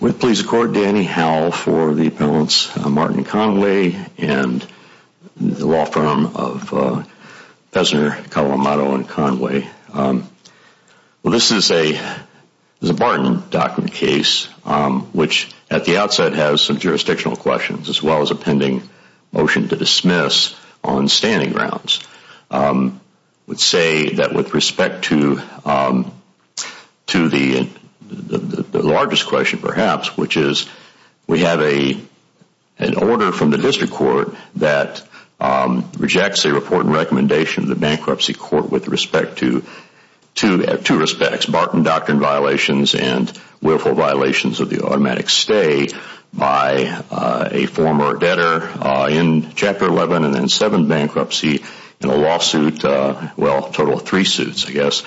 With police accord, Danny Howell for the appellants Martin Conway and the law firm of Fessner, Colomado, and Conway. This is a Martin document case which at the outset has some jurisdictional questions as well as a pending motion to dismiss on standing grounds. I would say that with respect to the largest question, perhaps, which is we have an order from the district court that rejects a report and recommendation of the bankruptcy court with respect to two aspects, Martin doctrine violations and willful violations of the automatic stay by a former debtor in Chapter 11 and 7 bankruptcy in a lawsuit, a total of three suits I guess,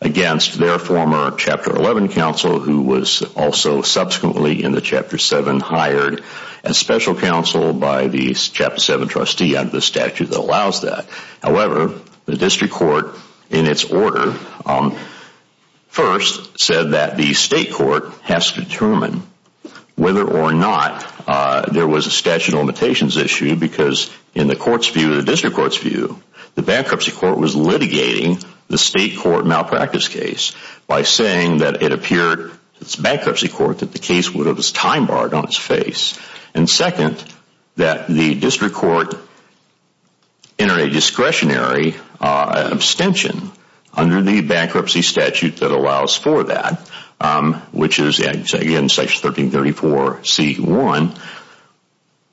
against their former Chapter 11 counsel who was also subsequently in the Chapter 7 hired as special counsel by the Chapter 7 trustee under the statute that allows that. However, the district court in its order first said that the state court has to determine whether or not there was a statute of limitations issue because in the court's view, the district court's view, the bankruptcy court was litigating the state court malpractice case by saying that it appeared to the bankruptcy court that the case was time barred on its face and second that the district court enter a discretionary abstention under the bankruptcy statute that allows for that, which is again Section 1334C1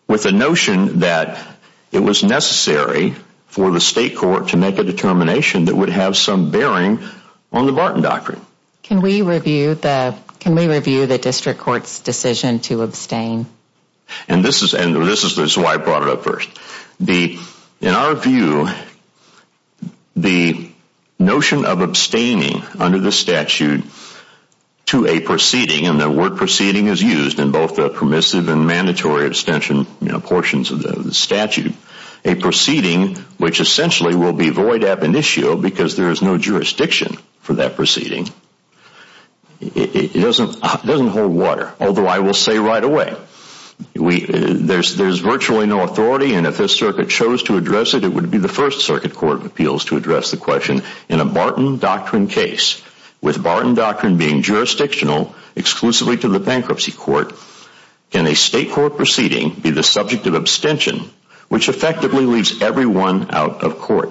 with the notion that it was necessary for the state court to make a determination that would have some bearing on the Martin doctrine. Can we review the district court's decision to abstain? And this is why I brought it up first. In our view, the notion of abstaining under the statute to a proceeding, and the word proceeding is used in both the permissive and mandatory abstention portions of the statute, a proceeding which essentially will be void ab initio because there is no jurisdiction for that proceeding, it doesn't hold water, although I will say right away, there is virtually no authority and if this circuit chose to address it, it would be the first circuit court of appeals to address the question in a Martin doctrine case, with Martin doctrine being jurisdictional exclusively to the bankruptcy court, can a state court proceeding be the subject of abstention, which effectively leaves everyone out of court?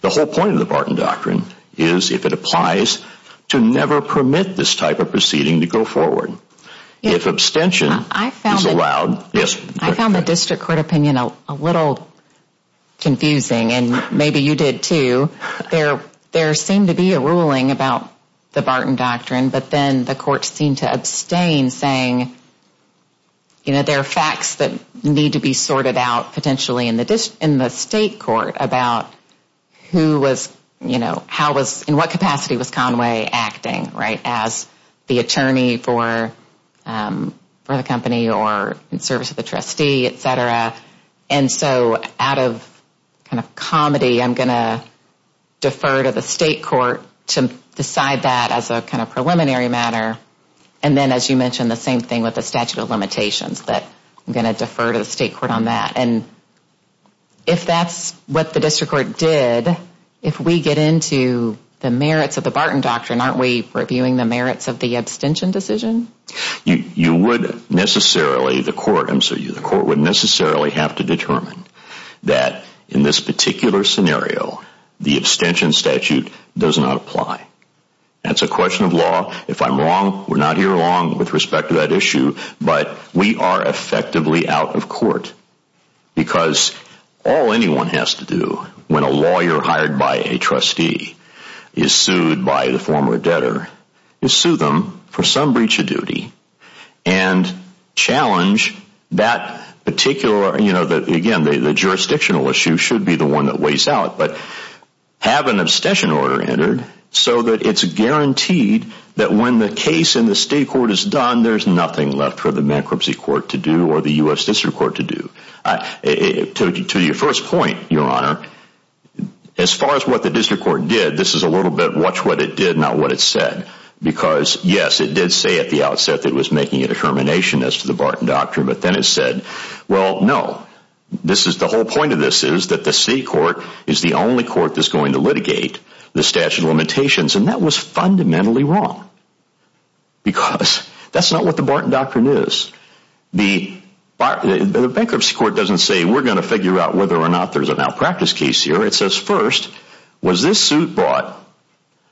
The whole point of the Martin doctrine is, if it applies, to never permit this type of proceeding to go forward. If abstention is allowed, I found the district court opinion a little confusing, and maybe you did too, there seemed to be a ruling about the Martin doctrine, but then the court seemed to abstain, saying there are facts that need to be sorted out potentially in the state court about who was, in what capacity was Conway acting as the attorney for the company or in service of the trustee, et cetera, and so out of kind of comedy, I'm going to defer to the state court to decide that as a kind of preliminary matter, and then as you mentioned, the same thing with the statute of limitations, that I'm going to defer to the state court on that, and if that's what the district court did, if we get into the merits of the Martin doctrine, aren't we reviewing the merits of the abstention decision? You would necessarily, the court would necessarily have to determine that in this particular scenario the abstention statute does not apply. That's a question of law. If I'm wrong, we're not here long with respect to that issue, but we are effectively out of court because all anyone has to do when a lawyer hired by a trustee is sued by the former debtor is sue them for some breach of duty and challenge that particular, again, the jurisdictional issue should be the one that weighs out, but have an abstention order entered so that it's guaranteed that when the case in the state court is done, there's nothing left for the bankruptcy court to do or the U.S. district court to do. To your first point, your honor, as far as what the district court did, this is a little bit watch what it did, not what it said, because yes, it did say at the outset that it was making a determination as to the Martin doctrine, but then it said, well, no, the whole point of this is that the state court is the only court that's going to litigate the statute of limitations, and that was fundamentally wrong, because that's not what the Martin doctrine is. The bankruptcy court doesn't say we're going to figure out whether or not there's an out practice case here. It says, first, was this suit bought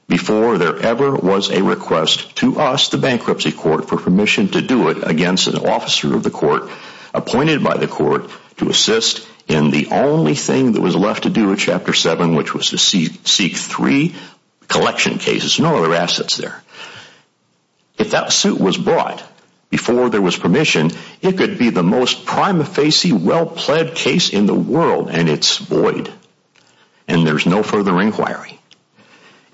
before there ever was a request to us, the bankruptcy court, for permission to do it against an officer of the court appointed by the court to assist in the only thing that was left to do in Chapter 7, which was to seek three collection cases, no other assets there. If that suit was bought before there was permission, it could be the most prima facie, well-plead case in the world, and it's void, and there's no further inquiry.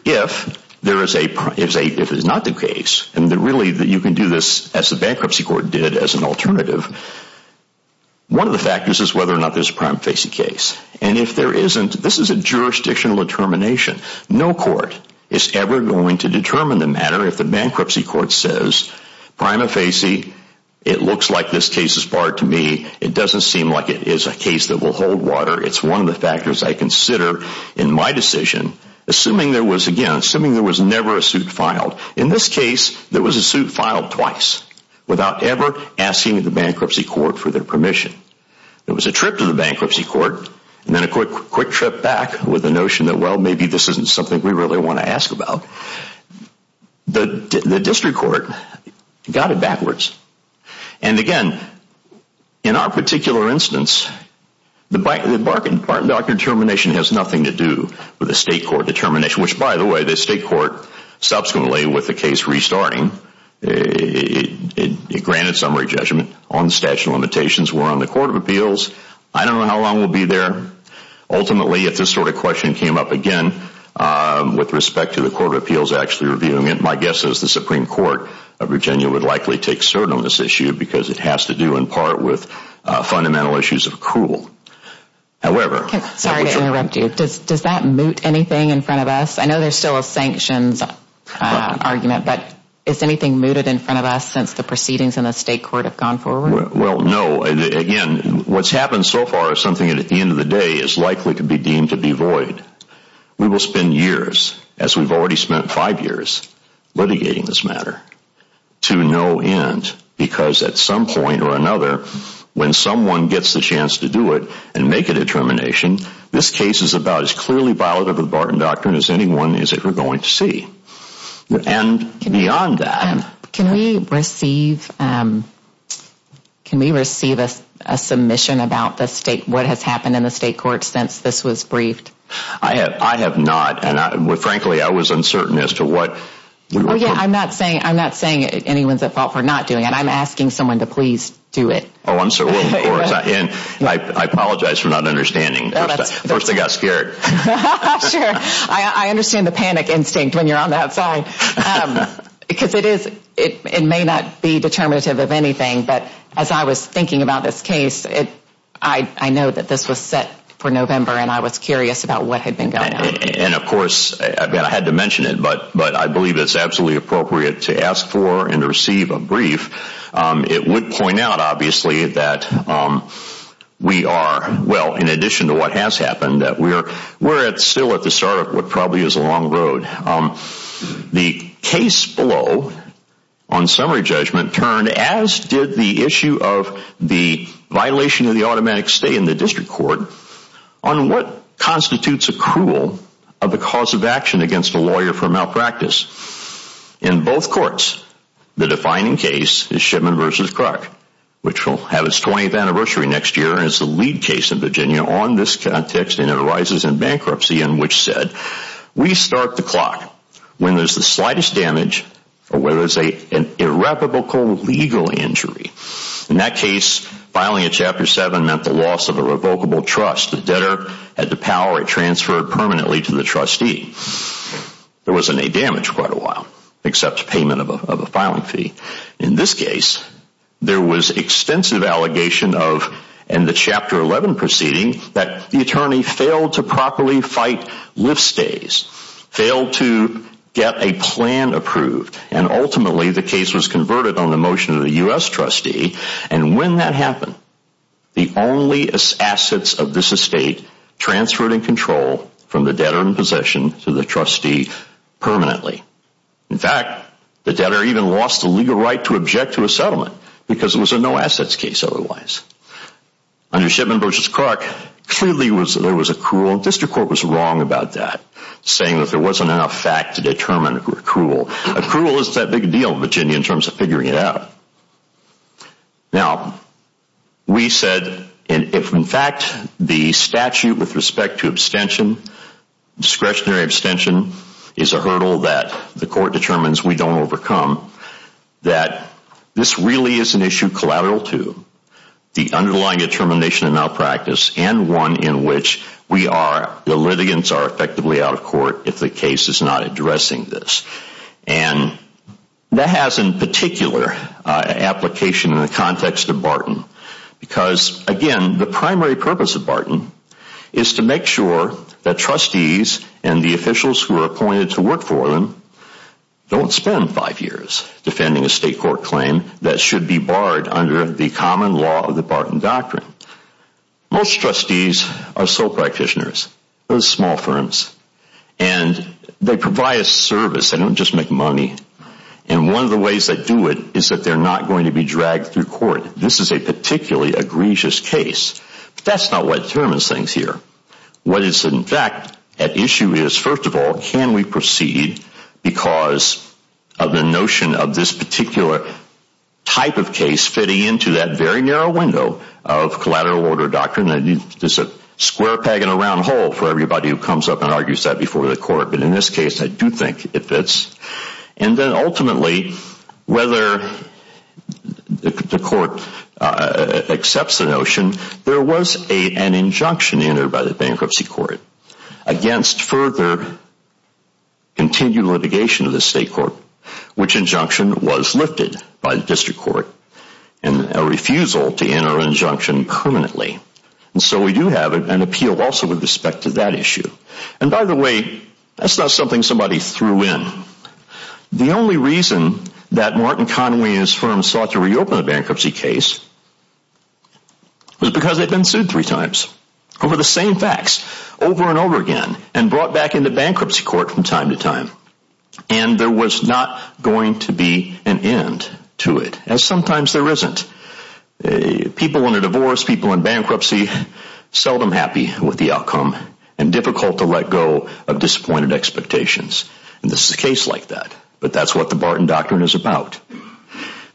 If there is a, if it's not the case, and really you can do this as the bankruptcy court did as an alternative, one of the factors is whether or not there's a prima facie case, and if there isn't, this is a jurisdictional determination. No court is ever going to determine the matter if the bankruptcy court says, prima facie, it looks like this case is barred to me. It doesn't seem like it is a case that will hold water. It's one of the factors I consider in my decision, assuming there was, again, assuming there was never a suit filed. In this case, there was a suit filed twice without ever asking the bankruptcy court for their permission. There was a trip to the bankruptcy court, and then a quick trip back with the notion that, well, maybe this isn't something we really want to ask about. The district court got it backwards, and again, in our particular instance, the Barton-Docker determination has nothing to do with the state court determination, which, by the way, the case restarting, it granted summary judgment on the statute of limitations were on the Court of Appeals. I don't know how long we'll be there. Ultimately, if this sort of question came up again with respect to the Court of Appeals actually reviewing it, my guess is the Supreme Court of Virginia would likely take cert on this issue because it has to do in part with fundamental issues of accrual. However... Sorry to interrupt you. Does that moot anything in front of us? I know there's still a sanctions argument, but is anything mooted in front of us since the proceedings in the state court have gone forward? Well, no. Again, what's happened so far is something that at the end of the day is likely to be deemed to be void. We will spend years, as we've already spent five years, litigating this matter to no end because at some point or another, when someone gets the chance to do it and make a determination, this case is about as clearly violative of the Barton Doctrine as anyone is ever going to see. And beyond that... Can we receive a submission about what has happened in the state court since this was briefed? I have not. And frankly, I was uncertain as to what... I'm not saying anyone's at fault for not doing it. I'm asking someone to please do it. I'm sorry. I apologize for not understanding. First, I got scared. Sure. I understand the panic instinct when you're on that side because it may not be determinative of anything, but as I was thinking about this case, I know that this was set for November and I was curious about what had been going on. And of course, I had to mention it, but I believe it's absolutely appropriate to ask for and to receive a brief. It would point out, obviously, that we are, well, in addition to what has happened, that we're still at the start of what probably is a long road. The case below on summary judgment turned, as did the issue of the violation of the automatic stay in the district court, on what constitutes a cruel of the cause of action against a lawyer for malpractice. In both courts, the defining case is Shipman v. Kruk, which will have its 20th anniversary next year and is the lead case in Virginia on this context and it arises in bankruptcy in which said, we start the clock when there's the slightest damage or whether it's an irreproachable legal injury. In that case, filing a Chapter 7 meant the loss of a revocable trust. The debtor had to power it transferred permanently to the trustee. There wasn't any damage for quite a while, except payment of a filing fee. In this case, there was extensive allegation of, in the Chapter 11 proceeding, that the attorney failed to properly fight lift stays, failed to get a plan approved, and ultimately the case was converted on the motion of the U.S. trustee. And when that happened, the only assets of this estate transferred in control from the debtor in possession to the trustee permanently. In fact, the debtor even lost the legal right to object to a settlement because it was a no-assets case otherwise. Under Shipman v. Kruk, clearly there was a cruel, and district court was wrong about that, saying that there wasn't enough fact to determine a cruel. Cruel isn't that big a deal in Virginia in terms of figuring it out. Now, we said, and if in fact the statute with respect to abstention, discretionary abstention, is a hurdle that the court determines we don't overcome, that this really is an issue collateral to the underlying determination of malpractice and one in which we are, the litigants are effectively out of court if the case is not addressing this. And that has in particular application in the context of Barton because, again, the primary purpose of Barton is to make sure that trustees and the officials who are appointed to work for them don't spend five years defending a state court claim that should be barred under the common law of the Barton Doctrine. Most trustees are sole practitioners, those small firms, and they provide a service, they don't just make money, and one of the ways they do it is that they're not going to be dragged through court. This is a particularly egregious case, but that's not what determines things here. What is in fact at issue is, first of all, can we proceed because of the notion of this particular type of case fitting into that very narrow window of collateral order doctrine that there's a square peg and a round hole for everybody who comes up and argues that before the court. But in this case, I do think it fits. And then ultimately, whether the court accepts the notion, there was an injunction entered by the bankruptcy court against further continued litigation of the state court, which injunction was lifted by the district court and a refusal to enter an injunction permanently. And so we do have an appeal also with respect to that issue. And by the way, that's not something somebody threw in. The only reason that Martin Conway and his firm sought to reopen the bankruptcy case was because they'd been sued three times over the same facts over and over again and brought back into bankruptcy court from time to time. And there was not going to be an end to it, as sometimes there isn't. People in a divorce, people in bankruptcy, seldom happy with the outcome and difficult to let go of disappointed expectations. And this is a case like that. But that's what the Barton Doctrine is about.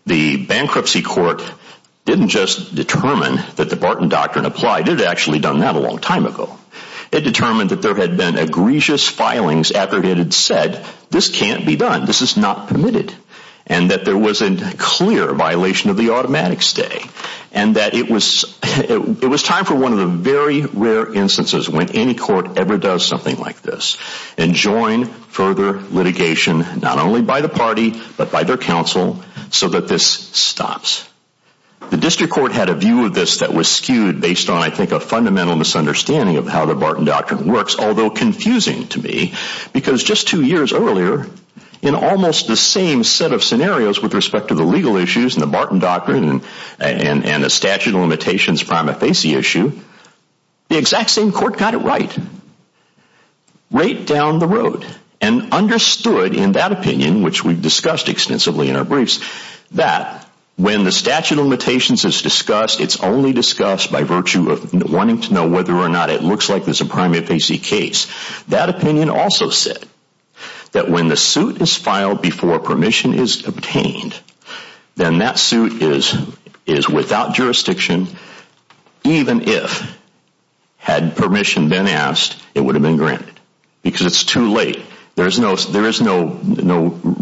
The bankruptcy court didn't just determine that the Barton Doctrine applied. It had actually done that a long time ago. It determined that there had been egregious filings after it had said, this can't be done. This is not permitted. And that there was a clear violation of the automatic stay. And that it was, it was time for one of the very rare instances when any court ever does something like this and join further litigation, not only by the party, but by their counsel, so that this stops. The district court had a view of this that was skewed based on, I think, a fundamental misunderstanding of how the Barton Doctrine works, although confusing to me. Because just two years earlier, in almost the same set of scenarios with respect to the legal issues and the Barton Doctrine and the statute of limitations prima facie issue, the exact same court got it right. Right down the road. And understood in that opinion, which we've discussed extensively in our briefs, that when the statute of limitations is discussed, it's only discussed by virtue of wanting to know whether or not it looks like it's a prima facie case. That opinion also said that when the suit is filed before permission is obtained, then that suit is without jurisdiction, even if, had permission been asked, it would have been granted. Because it's too late. There is no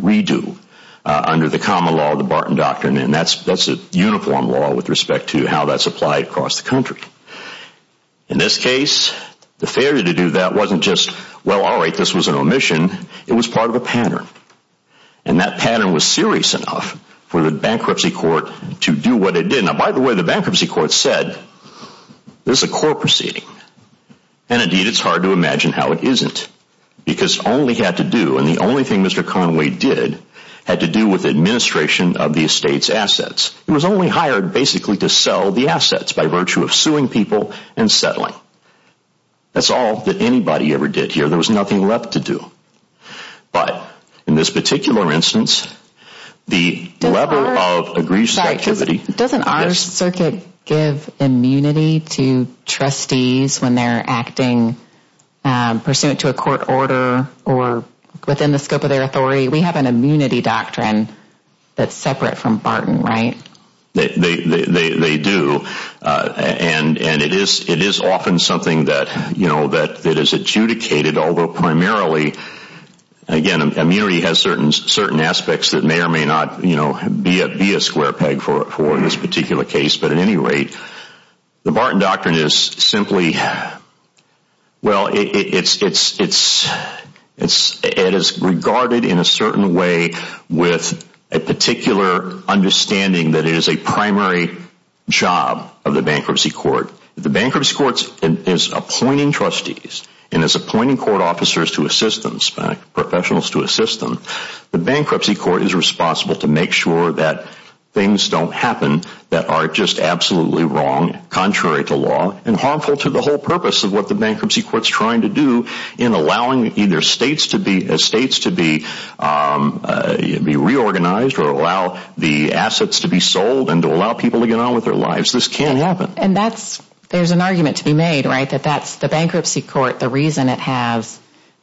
redo under the common law of the Barton Doctrine, and that's a uniform law with respect to how that's applied across the country. In this case, the failure to do that wasn't just, well, all right, this was an omission. It was part of a pattern. And that pattern was serious enough for the bankruptcy court to do what it did. Now, by the way, the bankruptcy court said, this is a court proceeding. And indeed, it's hard to imagine how it isn't. Because all we had to do, and the only thing Mr. Conway did, had to do with administration of the estate's assets. It was only hired basically to sell the assets by virtue of suing people and settling. That's all that anybody ever did here. There was nothing left to do. But in this particular instance, the lever of egregious activity. Doesn't our circuit give immunity to trustees when they're acting pursuant to a court order or within the scope of their authority? We have an immunity doctrine that's separate from Barton, right? They do. And it is often something that is adjudicated, although primarily, again, immunity has certain aspects that may or may not be a square peg for this particular case. But at any rate, the Barton Doctrine is simply, well, it is regarded in a certain way with a particular understanding that it is a primary job of the bankruptcy court. The bankruptcy court is appointing trustees and is appointing court officers to assist them, professionals to assist them. The bankruptcy court is responsible to make sure that things don't happen that are just absolutely wrong, contrary to law, and harmful to the whole purpose of what the bankruptcy court's trying to do in allowing either states to be reorganized or allow the assets to be sold and to allow people to get on with their lives. This can't happen. And that's, there's an argument to be made, right, that that's, the bankruptcy court, the reason it has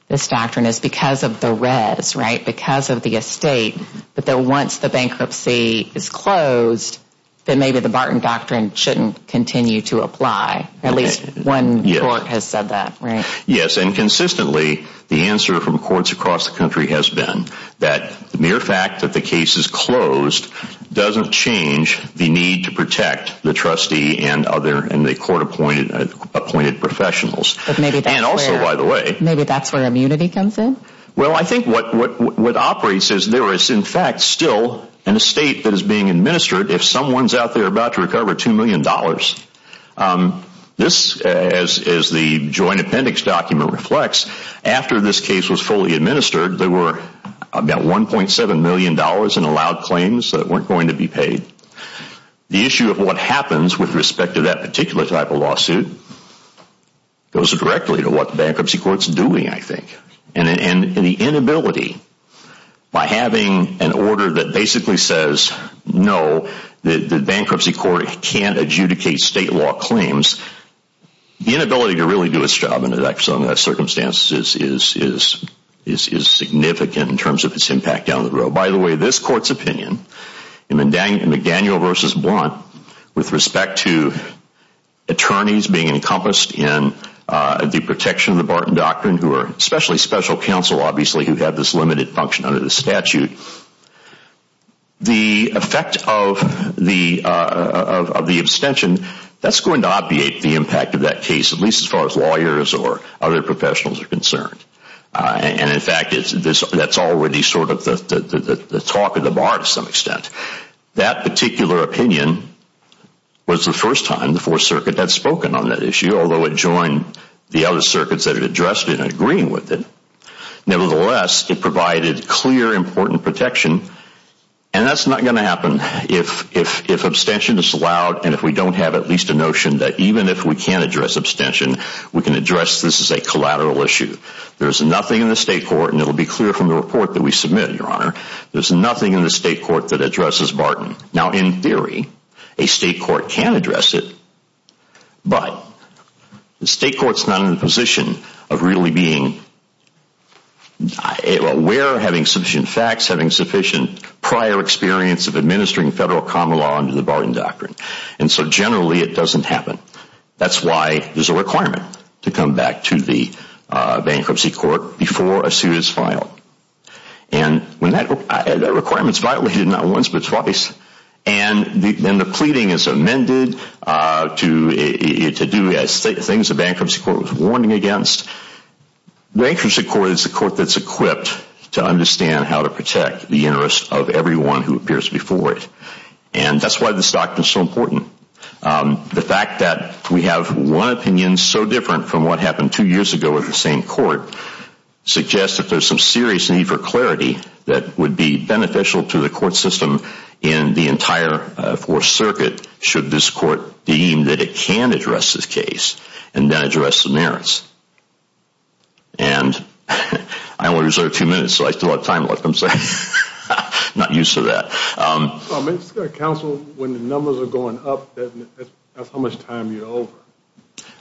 this doctrine is because of the res, right, because of the estate, but that once the bankruptcy is closed, then maybe the Barton Doctrine shouldn't continue to apply. At least one court has said that, right? Yes, and consistently, the answer from courts across the country has been that the mere fact that the case is closed doesn't change the need to protect the trustee and other in the court appointed professionals, and also, by the way, maybe that's where immunity comes in. Well, I think what operates is there is, in fact, still an estate that is being administered if someone's out there about to recover $2 million. This, as the joint appendix document reflects, after this case was fully administered, there were about $1.7 million in allowed claims that weren't going to be paid. The issue of what happens with respect to that particular type of lawsuit goes directly to what the bankruptcy court's doing, I think, and the inability, by having an order that basically says, no, the bankruptcy court can't adjudicate state law claims, the inability to really do its job under that circumstance is significant in terms of its impact down the road. By the way, this court's opinion, McDaniel v. Blunt, with respect to attorneys being encompassed in the protection of the Barton Doctrine, who are especially special counsel, obviously, who have this limited function under the statute, the effect of the abstention, that's going to obviate the impact of that case, at least as far as lawyers or other people. That particular opinion was the first time the 4th Circuit had spoken on that issue, although it joined the other circuits that it addressed in agreeing with it. Nevertheless, it provided clear, important protection, and that's not going to happen if abstention is allowed and if we don't have at least a notion that even if we can't address abstention, we can address this as a collateral issue. There's nothing in the state court, and it will be clear from the report that we submit, Your Honor, there's nothing in the state court that addresses Barton. Now, in theory, a state court can address it, but the state court's not in a position of really being aware, having sufficient facts, having sufficient prior experience of administering federal common law under the Barton Doctrine, and so generally, it doesn't happen. That's why there's a requirement to come back to the bankruptcy court before a suit is filed. That requirement is violated not once, but twice, and the pleading is amended to do things the bankruptcy court was warning against. Bankruptcy court is the court that's equipped to understand how to protect the interests of everyone who appears before it, and that's why this doctrine is so important. The fact that we have one opinion so different from what happened two years ago at the same There's a serious need for clarity that would be beneficial to the court system in the entire Fourth Circuit should this court deem that it can address this case and then address the merits. And I only reserved two minutes, so I still have time left, I'm sorry. Not used to that. Counsel, when the numbers are going up, that's how much time you're over.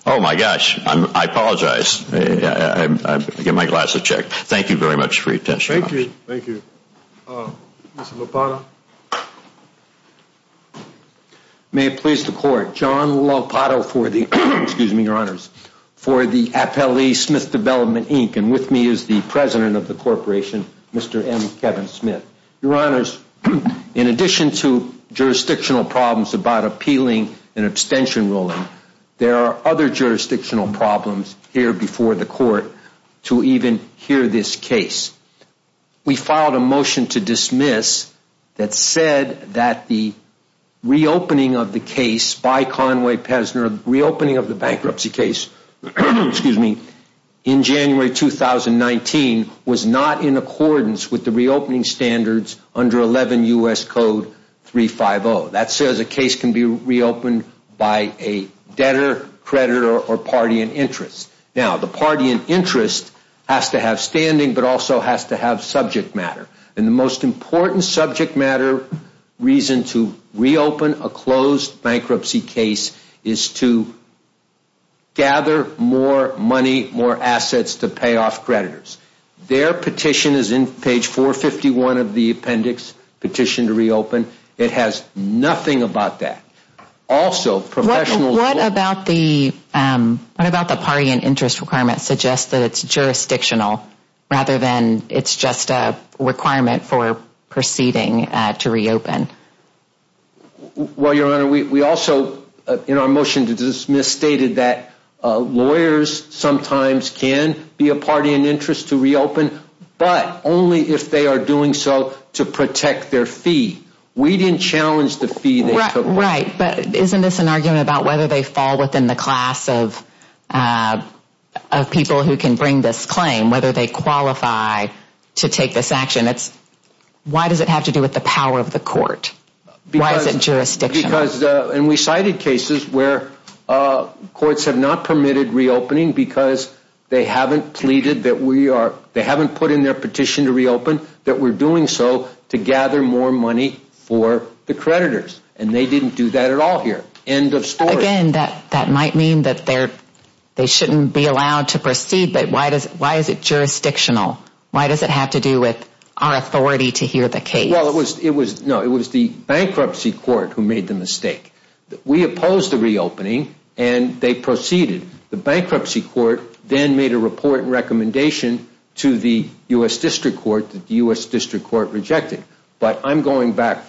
Oh my gosh. I apologize. I get my glasses checked. Thank you very much for your attention. Thank you. Thank you. Mr. Lopato. May it please the court, John Lopato for the, excuse me, your honors, for the Appellee Smith Development Inc., and with me is the president of the corporation, Mr. M. Kevin Smith. Your honors, in addition to jurisdictional problems about appealing an abstention ruling, there are other jurisdictional problems here before the court to even hear this case. We filed a motion to dismiss that said that the reopening of the case by Conway Pesner, reopening of the bankruptcy case, excuse me, in January 2019 was not in accordance with the reopening standards under 11 U.S. Code 350. That says a case can be reopened by a debtor, creditor, or party in interest. Now, the party in interest has to have standing, but also has to have subject matter. And the most important subject matter reason to reopen a closed bankruptcy case is to gather more money, more assets to pay off creditors. Their petition is in page 451 of the appendix, petition to reopen. It has nothing about that. Also, professional... What about the party in interest requirement suggests that it's jurisdictional rather than it's just a requirement for proceeding to reopen? Well, your honor, we also, in our motion to dismiss, stated that lawyers sometimes can be a party in interest to reopen, but only if they are doing so to protect their fee. We didn't challenge the fee they took away. Right, but isn't this an argument about whether they fall within the class of people who can bring this claim, whether they qualify to take this action? Why does it have to do with the power of the court? Why is it jurisdictional? We cited cases where courts have not permitted reopening because they haven't put in their petition to reopen, that we're doing so to gather more money for the creditors. And they didn't do that at all here. End of story. Again, that might mean that they shouldn't be allowed to proceed, but why is it jurisdictional? Why does it have to do with our authority to hear the case? Well, it was the bankruptcy court who made the mistake. We opposed the reopening, and they proceeded. The bankruptcy court then made a report and recommendation to the U.S. District Court that the U.S. District Court rejected. But I'm going back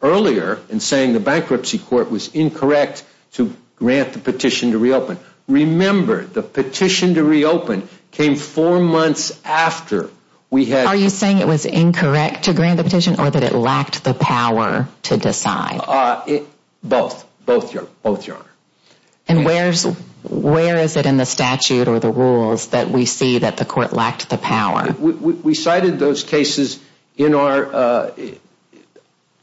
earlier and saying the bankruptcy court was incorrect to grant the petition to reopen. Remember, the petition to reopen came four months after we had... Are you saying it was incorrect to grant the petition, or that it lacked the power to decide? Both. Both, Your Honor. And where is it in the statute or the rules that we see that the court lacked the power? We cited those cases in our...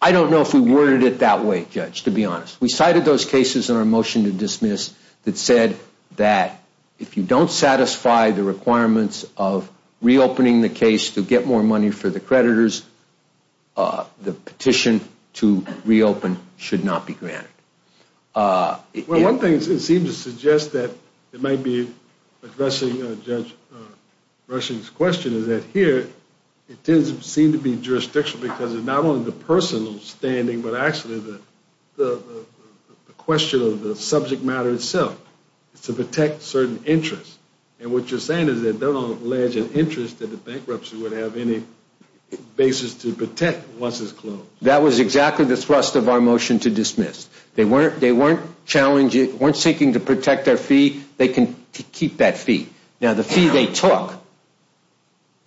I don't know if we worded it that way, Judge, to be honest. We cited those cases in our motion to dismiss that said that if you don't satisfy the requirements of reopening the case to get more money for the creditors, the petition to reopen should not be granted. Well, one thing it seems to suggest that it might be addressing Judge Rushing's question is that here, it does seem to be jurisdictional because it's not only the person standing, but actually the question of the subject matter itself. It's to protect certain interests. And what you're saying is that they don't allege an interest that the bankruptcy would have any basis to protect once it's closed. That was exactly the thrust of our motion to dismiss. They weren't seeking to protect their fee. They can keep that fee. Now, the fee they took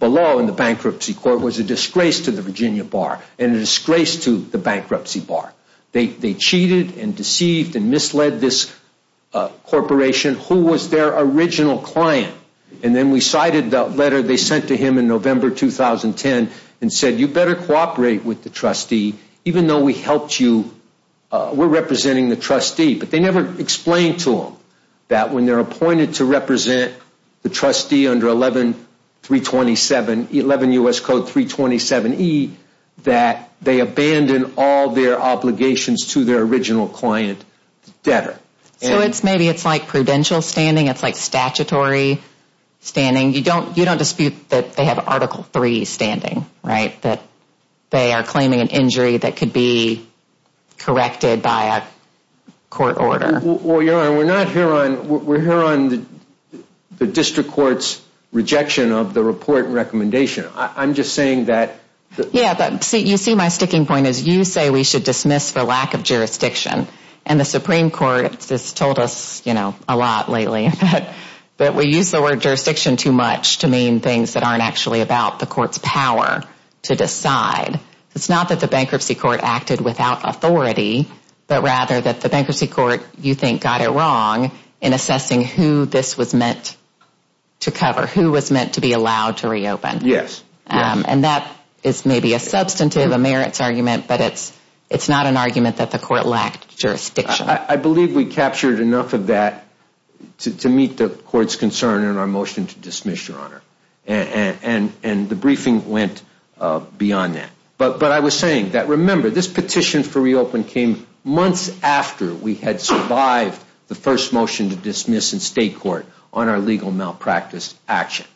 below in the bankruptcy court was a disgrace to the Virginia Bar and a disgrace to the bankruptcy bar. They cheated and deceived and misled this corporation. And so we asked the question, who was their original client? And then we cited the letter they sent to him in November 2010 and said, you better cooperate with the trustee, even though we helped you, we're representing the trustee. But they never explained to him that when they're appointed to represent the trustee under 11327, 11 U.S. Code 327E, that they abandon all their obligations to their original client debtor. So maybe it's like prudential standing. It's like statutory standing. You don't dispute that they have Article III standing, right, that they are claiming an injury that could be corrected by a court order. Well, Your Honor, we're not here on, we're here on the district court's rejection of the report and recommendation. I'm just saying that. Yeah, but you see my sticking point is you say we should dismiss for lack of jurisdiction and the Supreme Court has told us, you know, a lot lately that we use the word jurisdiction too much to mean things that aren't actually about the court's power to decide. It's not that the bankruptcy court acted without authority, but rather that the bankruptcy court, you think, got it wrong in assessing who this was meant to cover, who was meant to be allowed to reopen. Yes, yes. And that is maybe a substantive, a merits argument, but it's not an argument that the jurisdiction. I believe we captured enough of that to meet the court's concern in our motion to dismiss, Your Honor, and the briefing went beyond that. But I was saying that, remember, this petition for reopen came months after we had survived the first motion to dismiss in state court on our legal malpractice action,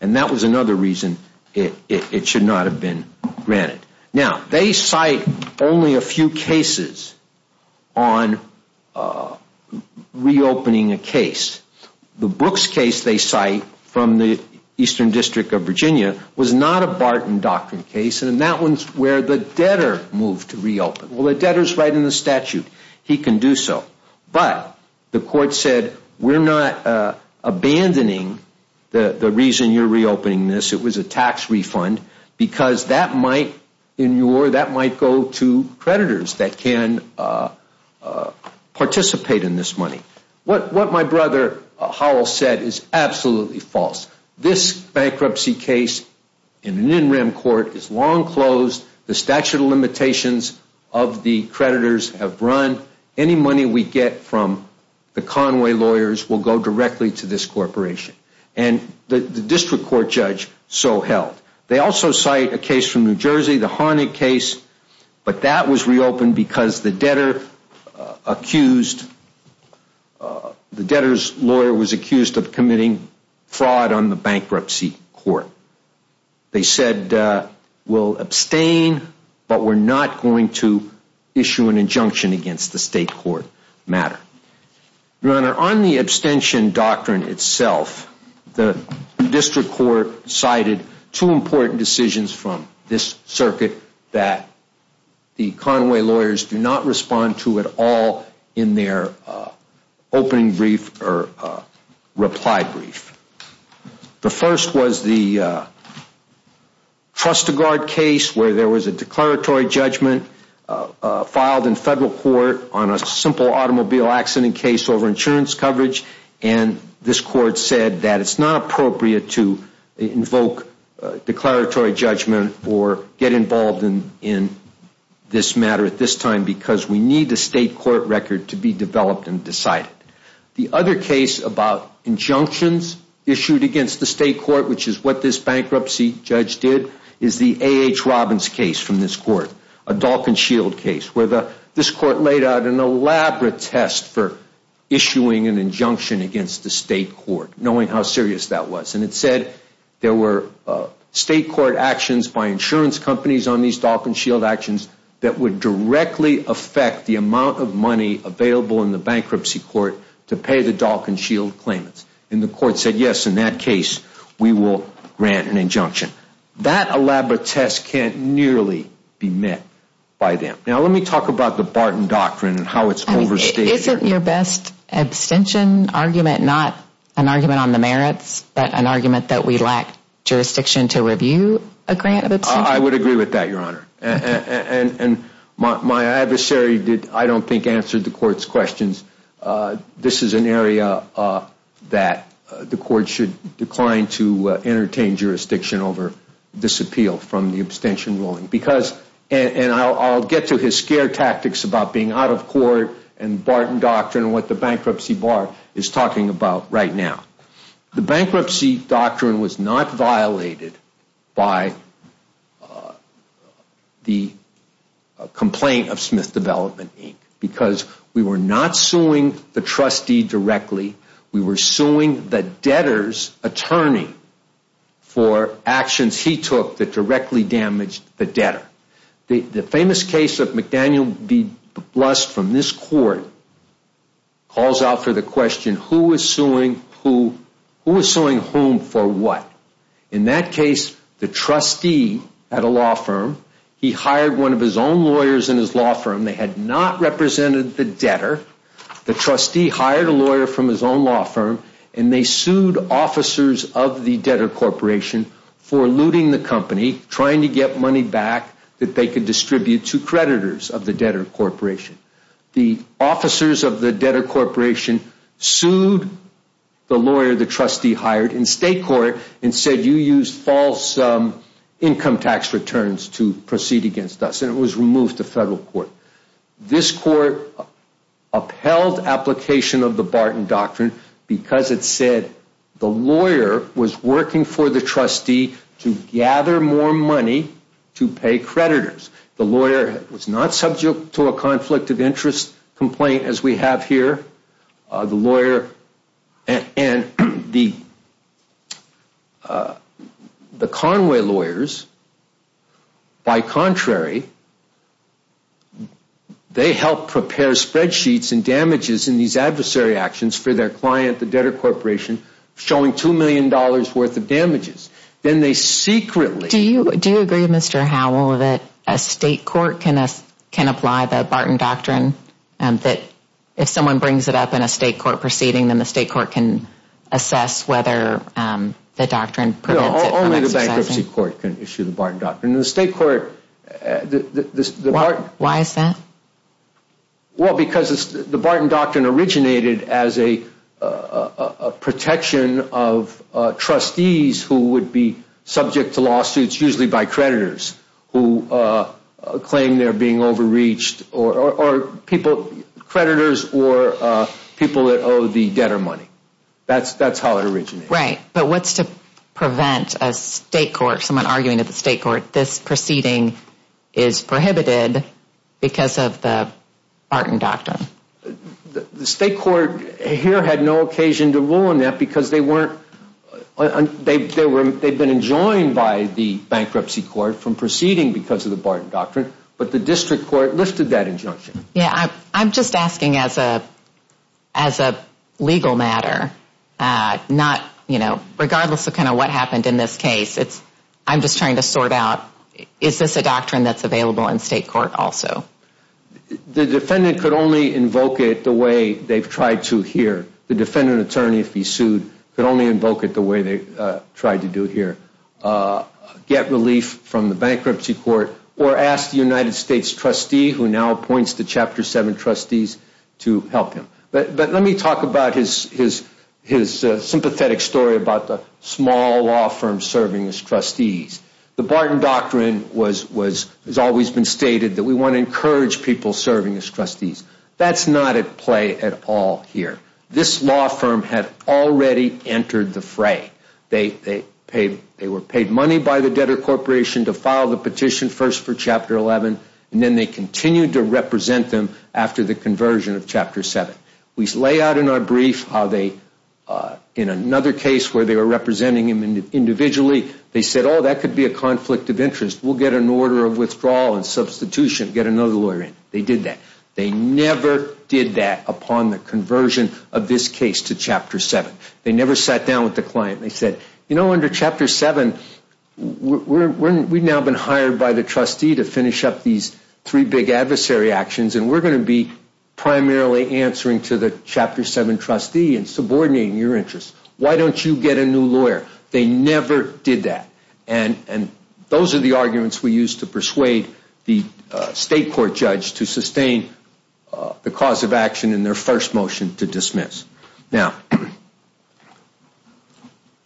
and that was another reason it should not have been granted. Now, they cite only a few cases on reopening a case. The Brooks case they cite from the Eastern District of Virginia was not a Barton doctrine case, and that one's where the debtor moved to reopen. Well, the debtor's right in the statute. He can do so. But the court said, we're not abandoning the reason you're reopening this. It was a tax refund, because that might go to creditors that can participate in this money. What my brother Howell said is absolutely false. This bankruptcy case in an in-rim court is long closed. The statute of limitations of the creditors have run. Any money we get from the Conway lawyers will go directly to this corporation. And the district court judge so held. They also cite a case from New Jersey, the Honig case, but that was reopened because the debtor was accused of committing fraud on the bankruptcy court. They said, we'll abstain, but we're not going to issue an injunction against the state court matter. Your Honor, on the abstention doctrine itself, the district court cited two important decisions from this circuit that the Conway lawyers do not respond to at all in their opening brief or reply brief. The first was the Trustegard case, where there was a declaratory judgment filed in federal court on a simple automobile accident case over insurance coverage, and this court said that it's not appropriate to invoke declaratory judgment or get involved in this matter at this time, because we need a state court record to be developed and decided. The other case about injunctions issued against the state court, which is what this bankruptcy judge did, is the A.H. Robbins case from this court, a Dalkin Shield case, where this court laid out an elaborate test for issuing an injunction against the state court, knowing how serious that was. And it said there were state court actions by insurance companies on these Dalkin Shield actions that would directly affect the amount of money available in the bankruptcy court to pay the Dalkin Shield claimants. The court said, yes, in that case, we will grant an injunction. That elaborate test can't nearly be met by them. Now, let me talk about the Barton Doctrine and how it's overstated. Isn't your best abstention argument not an argument on the merits, but an argument that we lack jurisdiction to review a grant of abstention? I would agree with that, Your Honor. My adversary, I don't think, answered the court's questions. This is an area that the court should decline to entertain jurisdiction over this appeal from the abstention ruling. Because, and I'll get to his scare tactics about being out of court and Barton Doctrine and what the bankruptcy bar is talking about right now. The bankruptcy doctrine was not violated by the complaint of Smith Development, Inc. We were not suing the trustee directly. We were suing the debtor's attorney for actions he took that directly damaged the debtor. The famous case of McDaniel v. Blust from this court calls out for the question, who is suing whom for what? In that case, the trustee had a law firm. He hired one of his own lawyers in his law firm. They had not represented the debtor. The trustee hired a lawyer from his own law firm, and they sued officers of the debtor corporation for looting the company, trying to get money back that they could distribute to creditors of the debtor corporation. The officers of the debtor corporation sued the lawyer the trustee hired in state court and said, you used false income tax returns to proceed against us. It was removed to federal court. This court upheld application of the Barton Doctrine because it said the lawyer was working for the trustee to gather more money to pay creditors. The lawyer was not subject to a conflict of interest complaint as we have here. The lawyer and the Conway lawyers, by contrary, they helped prepare spreadsheets and damages in these adversary actions for their client, the debtor corporation, showing $2 million worth of damages. Do you agree, Mr. Howell, that a state court can apply the Barton Doctrine and that if someone brings it up in a state court proceeding, then the state court can assess whether the doctrine prevents it from exercising? No, only the bankruptcy court can issue the Barton Doctrine. The state court... Why is that? Well, because the Barton Doctrine originated as a protection of trustees who would be subject to lawsuits, usually by creditors, who claim they are being overreached. Or people, creditors or people that owe the debtor money. That is how it originated. Right. But what is to prevent a state court, someone arguing at the state court, this proceeding is prohibited because of the Barton Doctrine? The state court here had no occasion to rule on that because they were not... They had been enjoined by the bankruptcy court from proceeding because of the Barton Doctrine, but the district court lifted that injunction. Yeah. I'm just asking as a legal matter, not... Regardless of what happened in this case, I'm just trying to sort out, is this a doctrine that's available in state court also? The defendant could only invoke it the way they've tried to here. The defendant attorney, if he sued, could only invoke it the way they tried to do here. But let me talk about his sympathetic story about the small law firm serving as trustees. The Barton Doctrine has always been stated that we want to encourage people serving as trustees. That's not at play at all here. This law firm had already entered the fray. They were paid money by the debtor corporation to file the petition first for Chapter 11, and then they continued to represent them after the conversion of Chapter 7. We lay out in our brief how they... In another case where they were representing him individually, they said, oh, that could be a conflict of interest. We'll get an order of withdrawal and substitution, get another lawyer in. They did that. They never did that upon the conversion of this case to Chapter 7. They never sat down with the client. They said, you know, under Chapter 7, we've now been hired by the trustee to finish up these three big adversary actions, and we're going to be primarily answering to the Chapter 7 trustee and subordinating your interests. Why don't you get a new lawyer? They never did that. And those are the arguments we used to persuade the state court judge to sustain the cause of action in their first motion to dismiss. Now...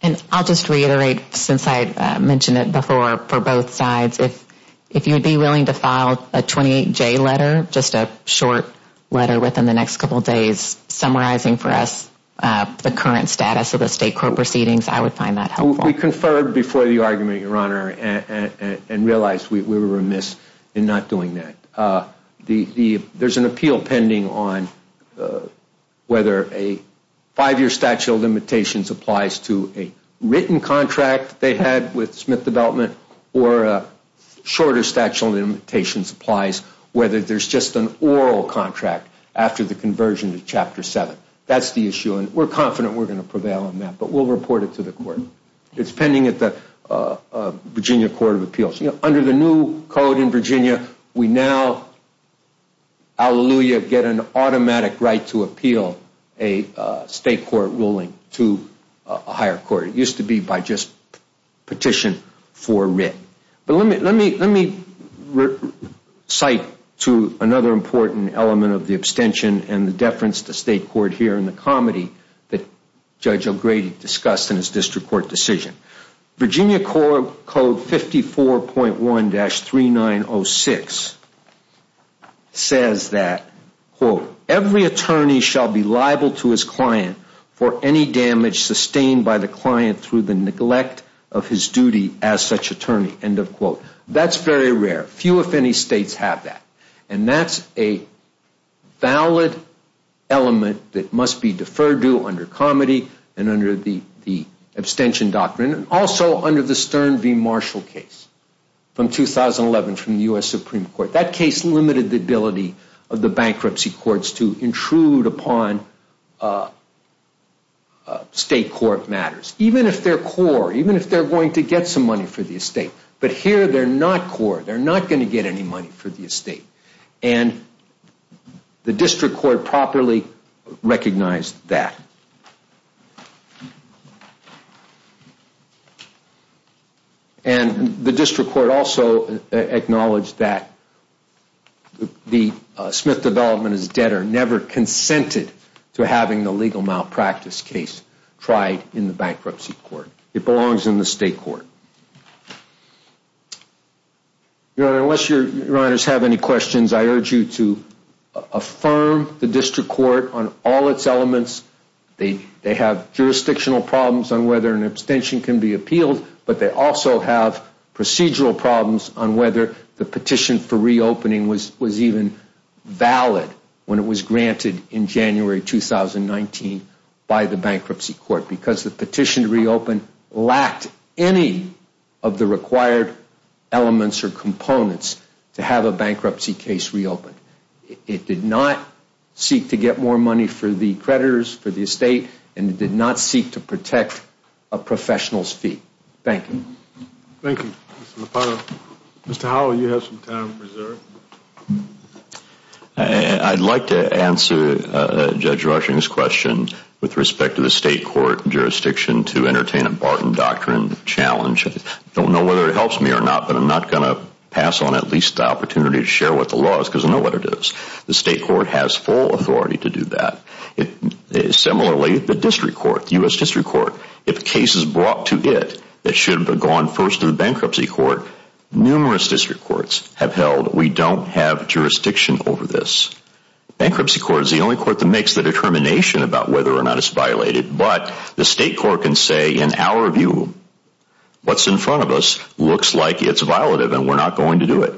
And I'll just reiterate, since I mentioned it before for both sides, if you would be willing to file a 28-J letter, just a short letter within the next couple of days, summarizing for us the current status of the state court proceedings, I would find that helpful. We conferred before the argument, Your Honor, and realized we were remiss in not doing that. There's an appeal pending on whether a five-year statute of limitations applies to a written contract they had with Smith Development or a shorter statute of limitations applies, whether there's just an oral contract after the conversion to Chapter 7. That's the issue, and we're confident we're going to prevail on that, but we'll report it to the court. It's pending at the Virginia Court of Appeals. Under the new code in Virginia, we now, hallelujah, get an automatic right to appeal a state court ruling to a higher court. It used to be by just petition for writ. But let me cite to another important element of the abstention and the deference to state court here in the comedy that Judge O'Grady discussed in his district court decision. Virginia Code 54.1-3906 says that, every attorney shall be liable to his client for any damage sustained by the client through the neglect of his duty as such attorney. That's very rare. Few, if any, states have that, and that's a valid element that must be deferred to under comedy and under the abstention doctrine, also under the Stern v. Marshall case from 2011 from the U.S. Supreme Court. That case limited the ability of the bankruptcy courts to intrude upon state court matters, even if they're core, even if they're going to get some money for the estate. But here, they're not core. They're not going to get any money for the estate, and the district court properly recognized that. And the district court also acknowledged that the Smith development is dead or never consented to having the legal malpractice case tried in the bankruptcy court. It belongs in the state court. Your Honor, unless your writers have any questions, I urge you to affirm the district court on all its elements. They have jurisdictional problems on whether an abstention can be appealed, but they also have procedural problems on whether the petition for reopening was even valid when it was granted in January 2019 by the bankruptcy court, because the petition to reopen lacked any of the required elements or components to have a bankruptcy case reopened. It did not seek to get more money for the creditors, for the estate, and it did not seek to protect a professional's fee. Thank you. Thank you, Mr. Lupano. Mr. Howell, you have some time reserved. I'd like to answer Judge Rushing's question with respect to the state court jurisdiction to entertain a Barton Doctrine challenge. I don't know whether it helps me or not, but I'm not going to pass on at least the opportunity to share what the law is, the state court has full authority to do that. Similarly, the district court, the U.S. district court, if a case is brought to it, it should have gone first to the bankruptcy court. Numerous district courts have held we don't have jurisdiction over this. Bankruptcy court is the only court that makes the determination about whether or not it's violated, but the state court can say, in our view, what's in front of us looks like it's violative and we're not going to do it.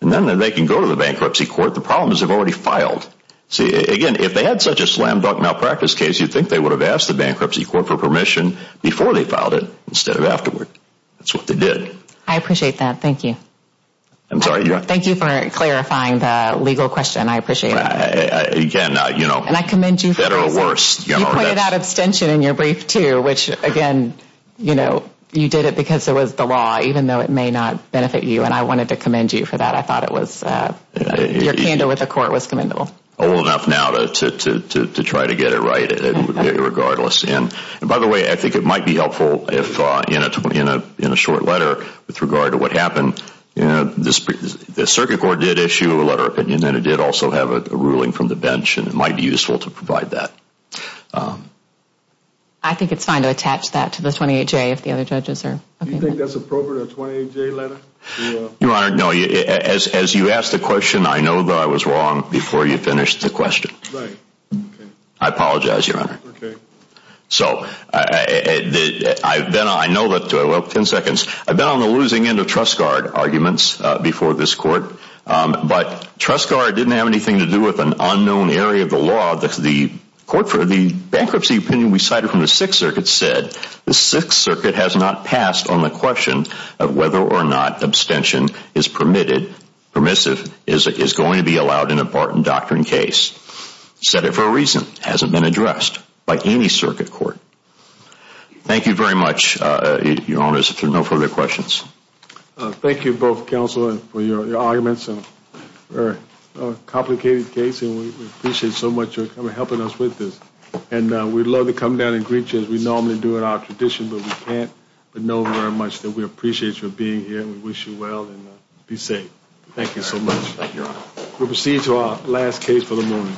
And then they can go to the bankruptcy court. The problem is they've already filed. See, again, if they had such a slam-dunk malpractice case, you'd think they would have asked the bankruptcy court for permission before they filed it instead of afterward. That's what they did. I appreciate that. Thank you. I'm sorry. Thank you for clarifying the legal question. I appreciate it. Again, you know. And I commend you for this. Better or worse. You pointed out abstention in your brief, too, which, again, you know, you did it because it was the law, even though it may not benefit you. And I wanted to commend you for that. I thought it was, your candle with the court was commendable. Old enough now to try to get it right regardless. And by the way, I think it might be helpful if in a short letter, with regard to what happened, you know, the circuit court did issue a letter of opinion, and it did also have a ruling from the bench, and it might be useful to provide that. I think it's fine to attach that to the 28-J if the other judges are. Do you think that's appropriate, a 28-J letter? Your Honor, no, as you asked the question, I know that I was wrong before you finished the question. Right. I apologize, Your Honor. Okay. So I've been, I know that, well, 10 seconds. I've been on the losing end of Trust Guard arguments before this court. But Trust Guard didn't have anything to do with an unknown area of the law that the court for the bankruptcy opinion we cited from the Sixth Circuit said the Sixth Circuit has not passed on the question of whether or not abstention is permitted, permissive, is going to be allowed in a Barton Doctrine case. Said it for a reason. Hasn't been addressed by any circuit court. Thank you very much, Your Honor, if there are no further questions. Thank you both, counsel, for your arguments. A very complicated case, and we appreciate so much for helping us with this. And we'd love to come down and greet you as we normally do in our tradition, but we can't, but know very much that we appreciate you being here, and we wish you well, and be safe. Thank you so much. Thank you, Your Honor. We'll proceed to our last case for the morning.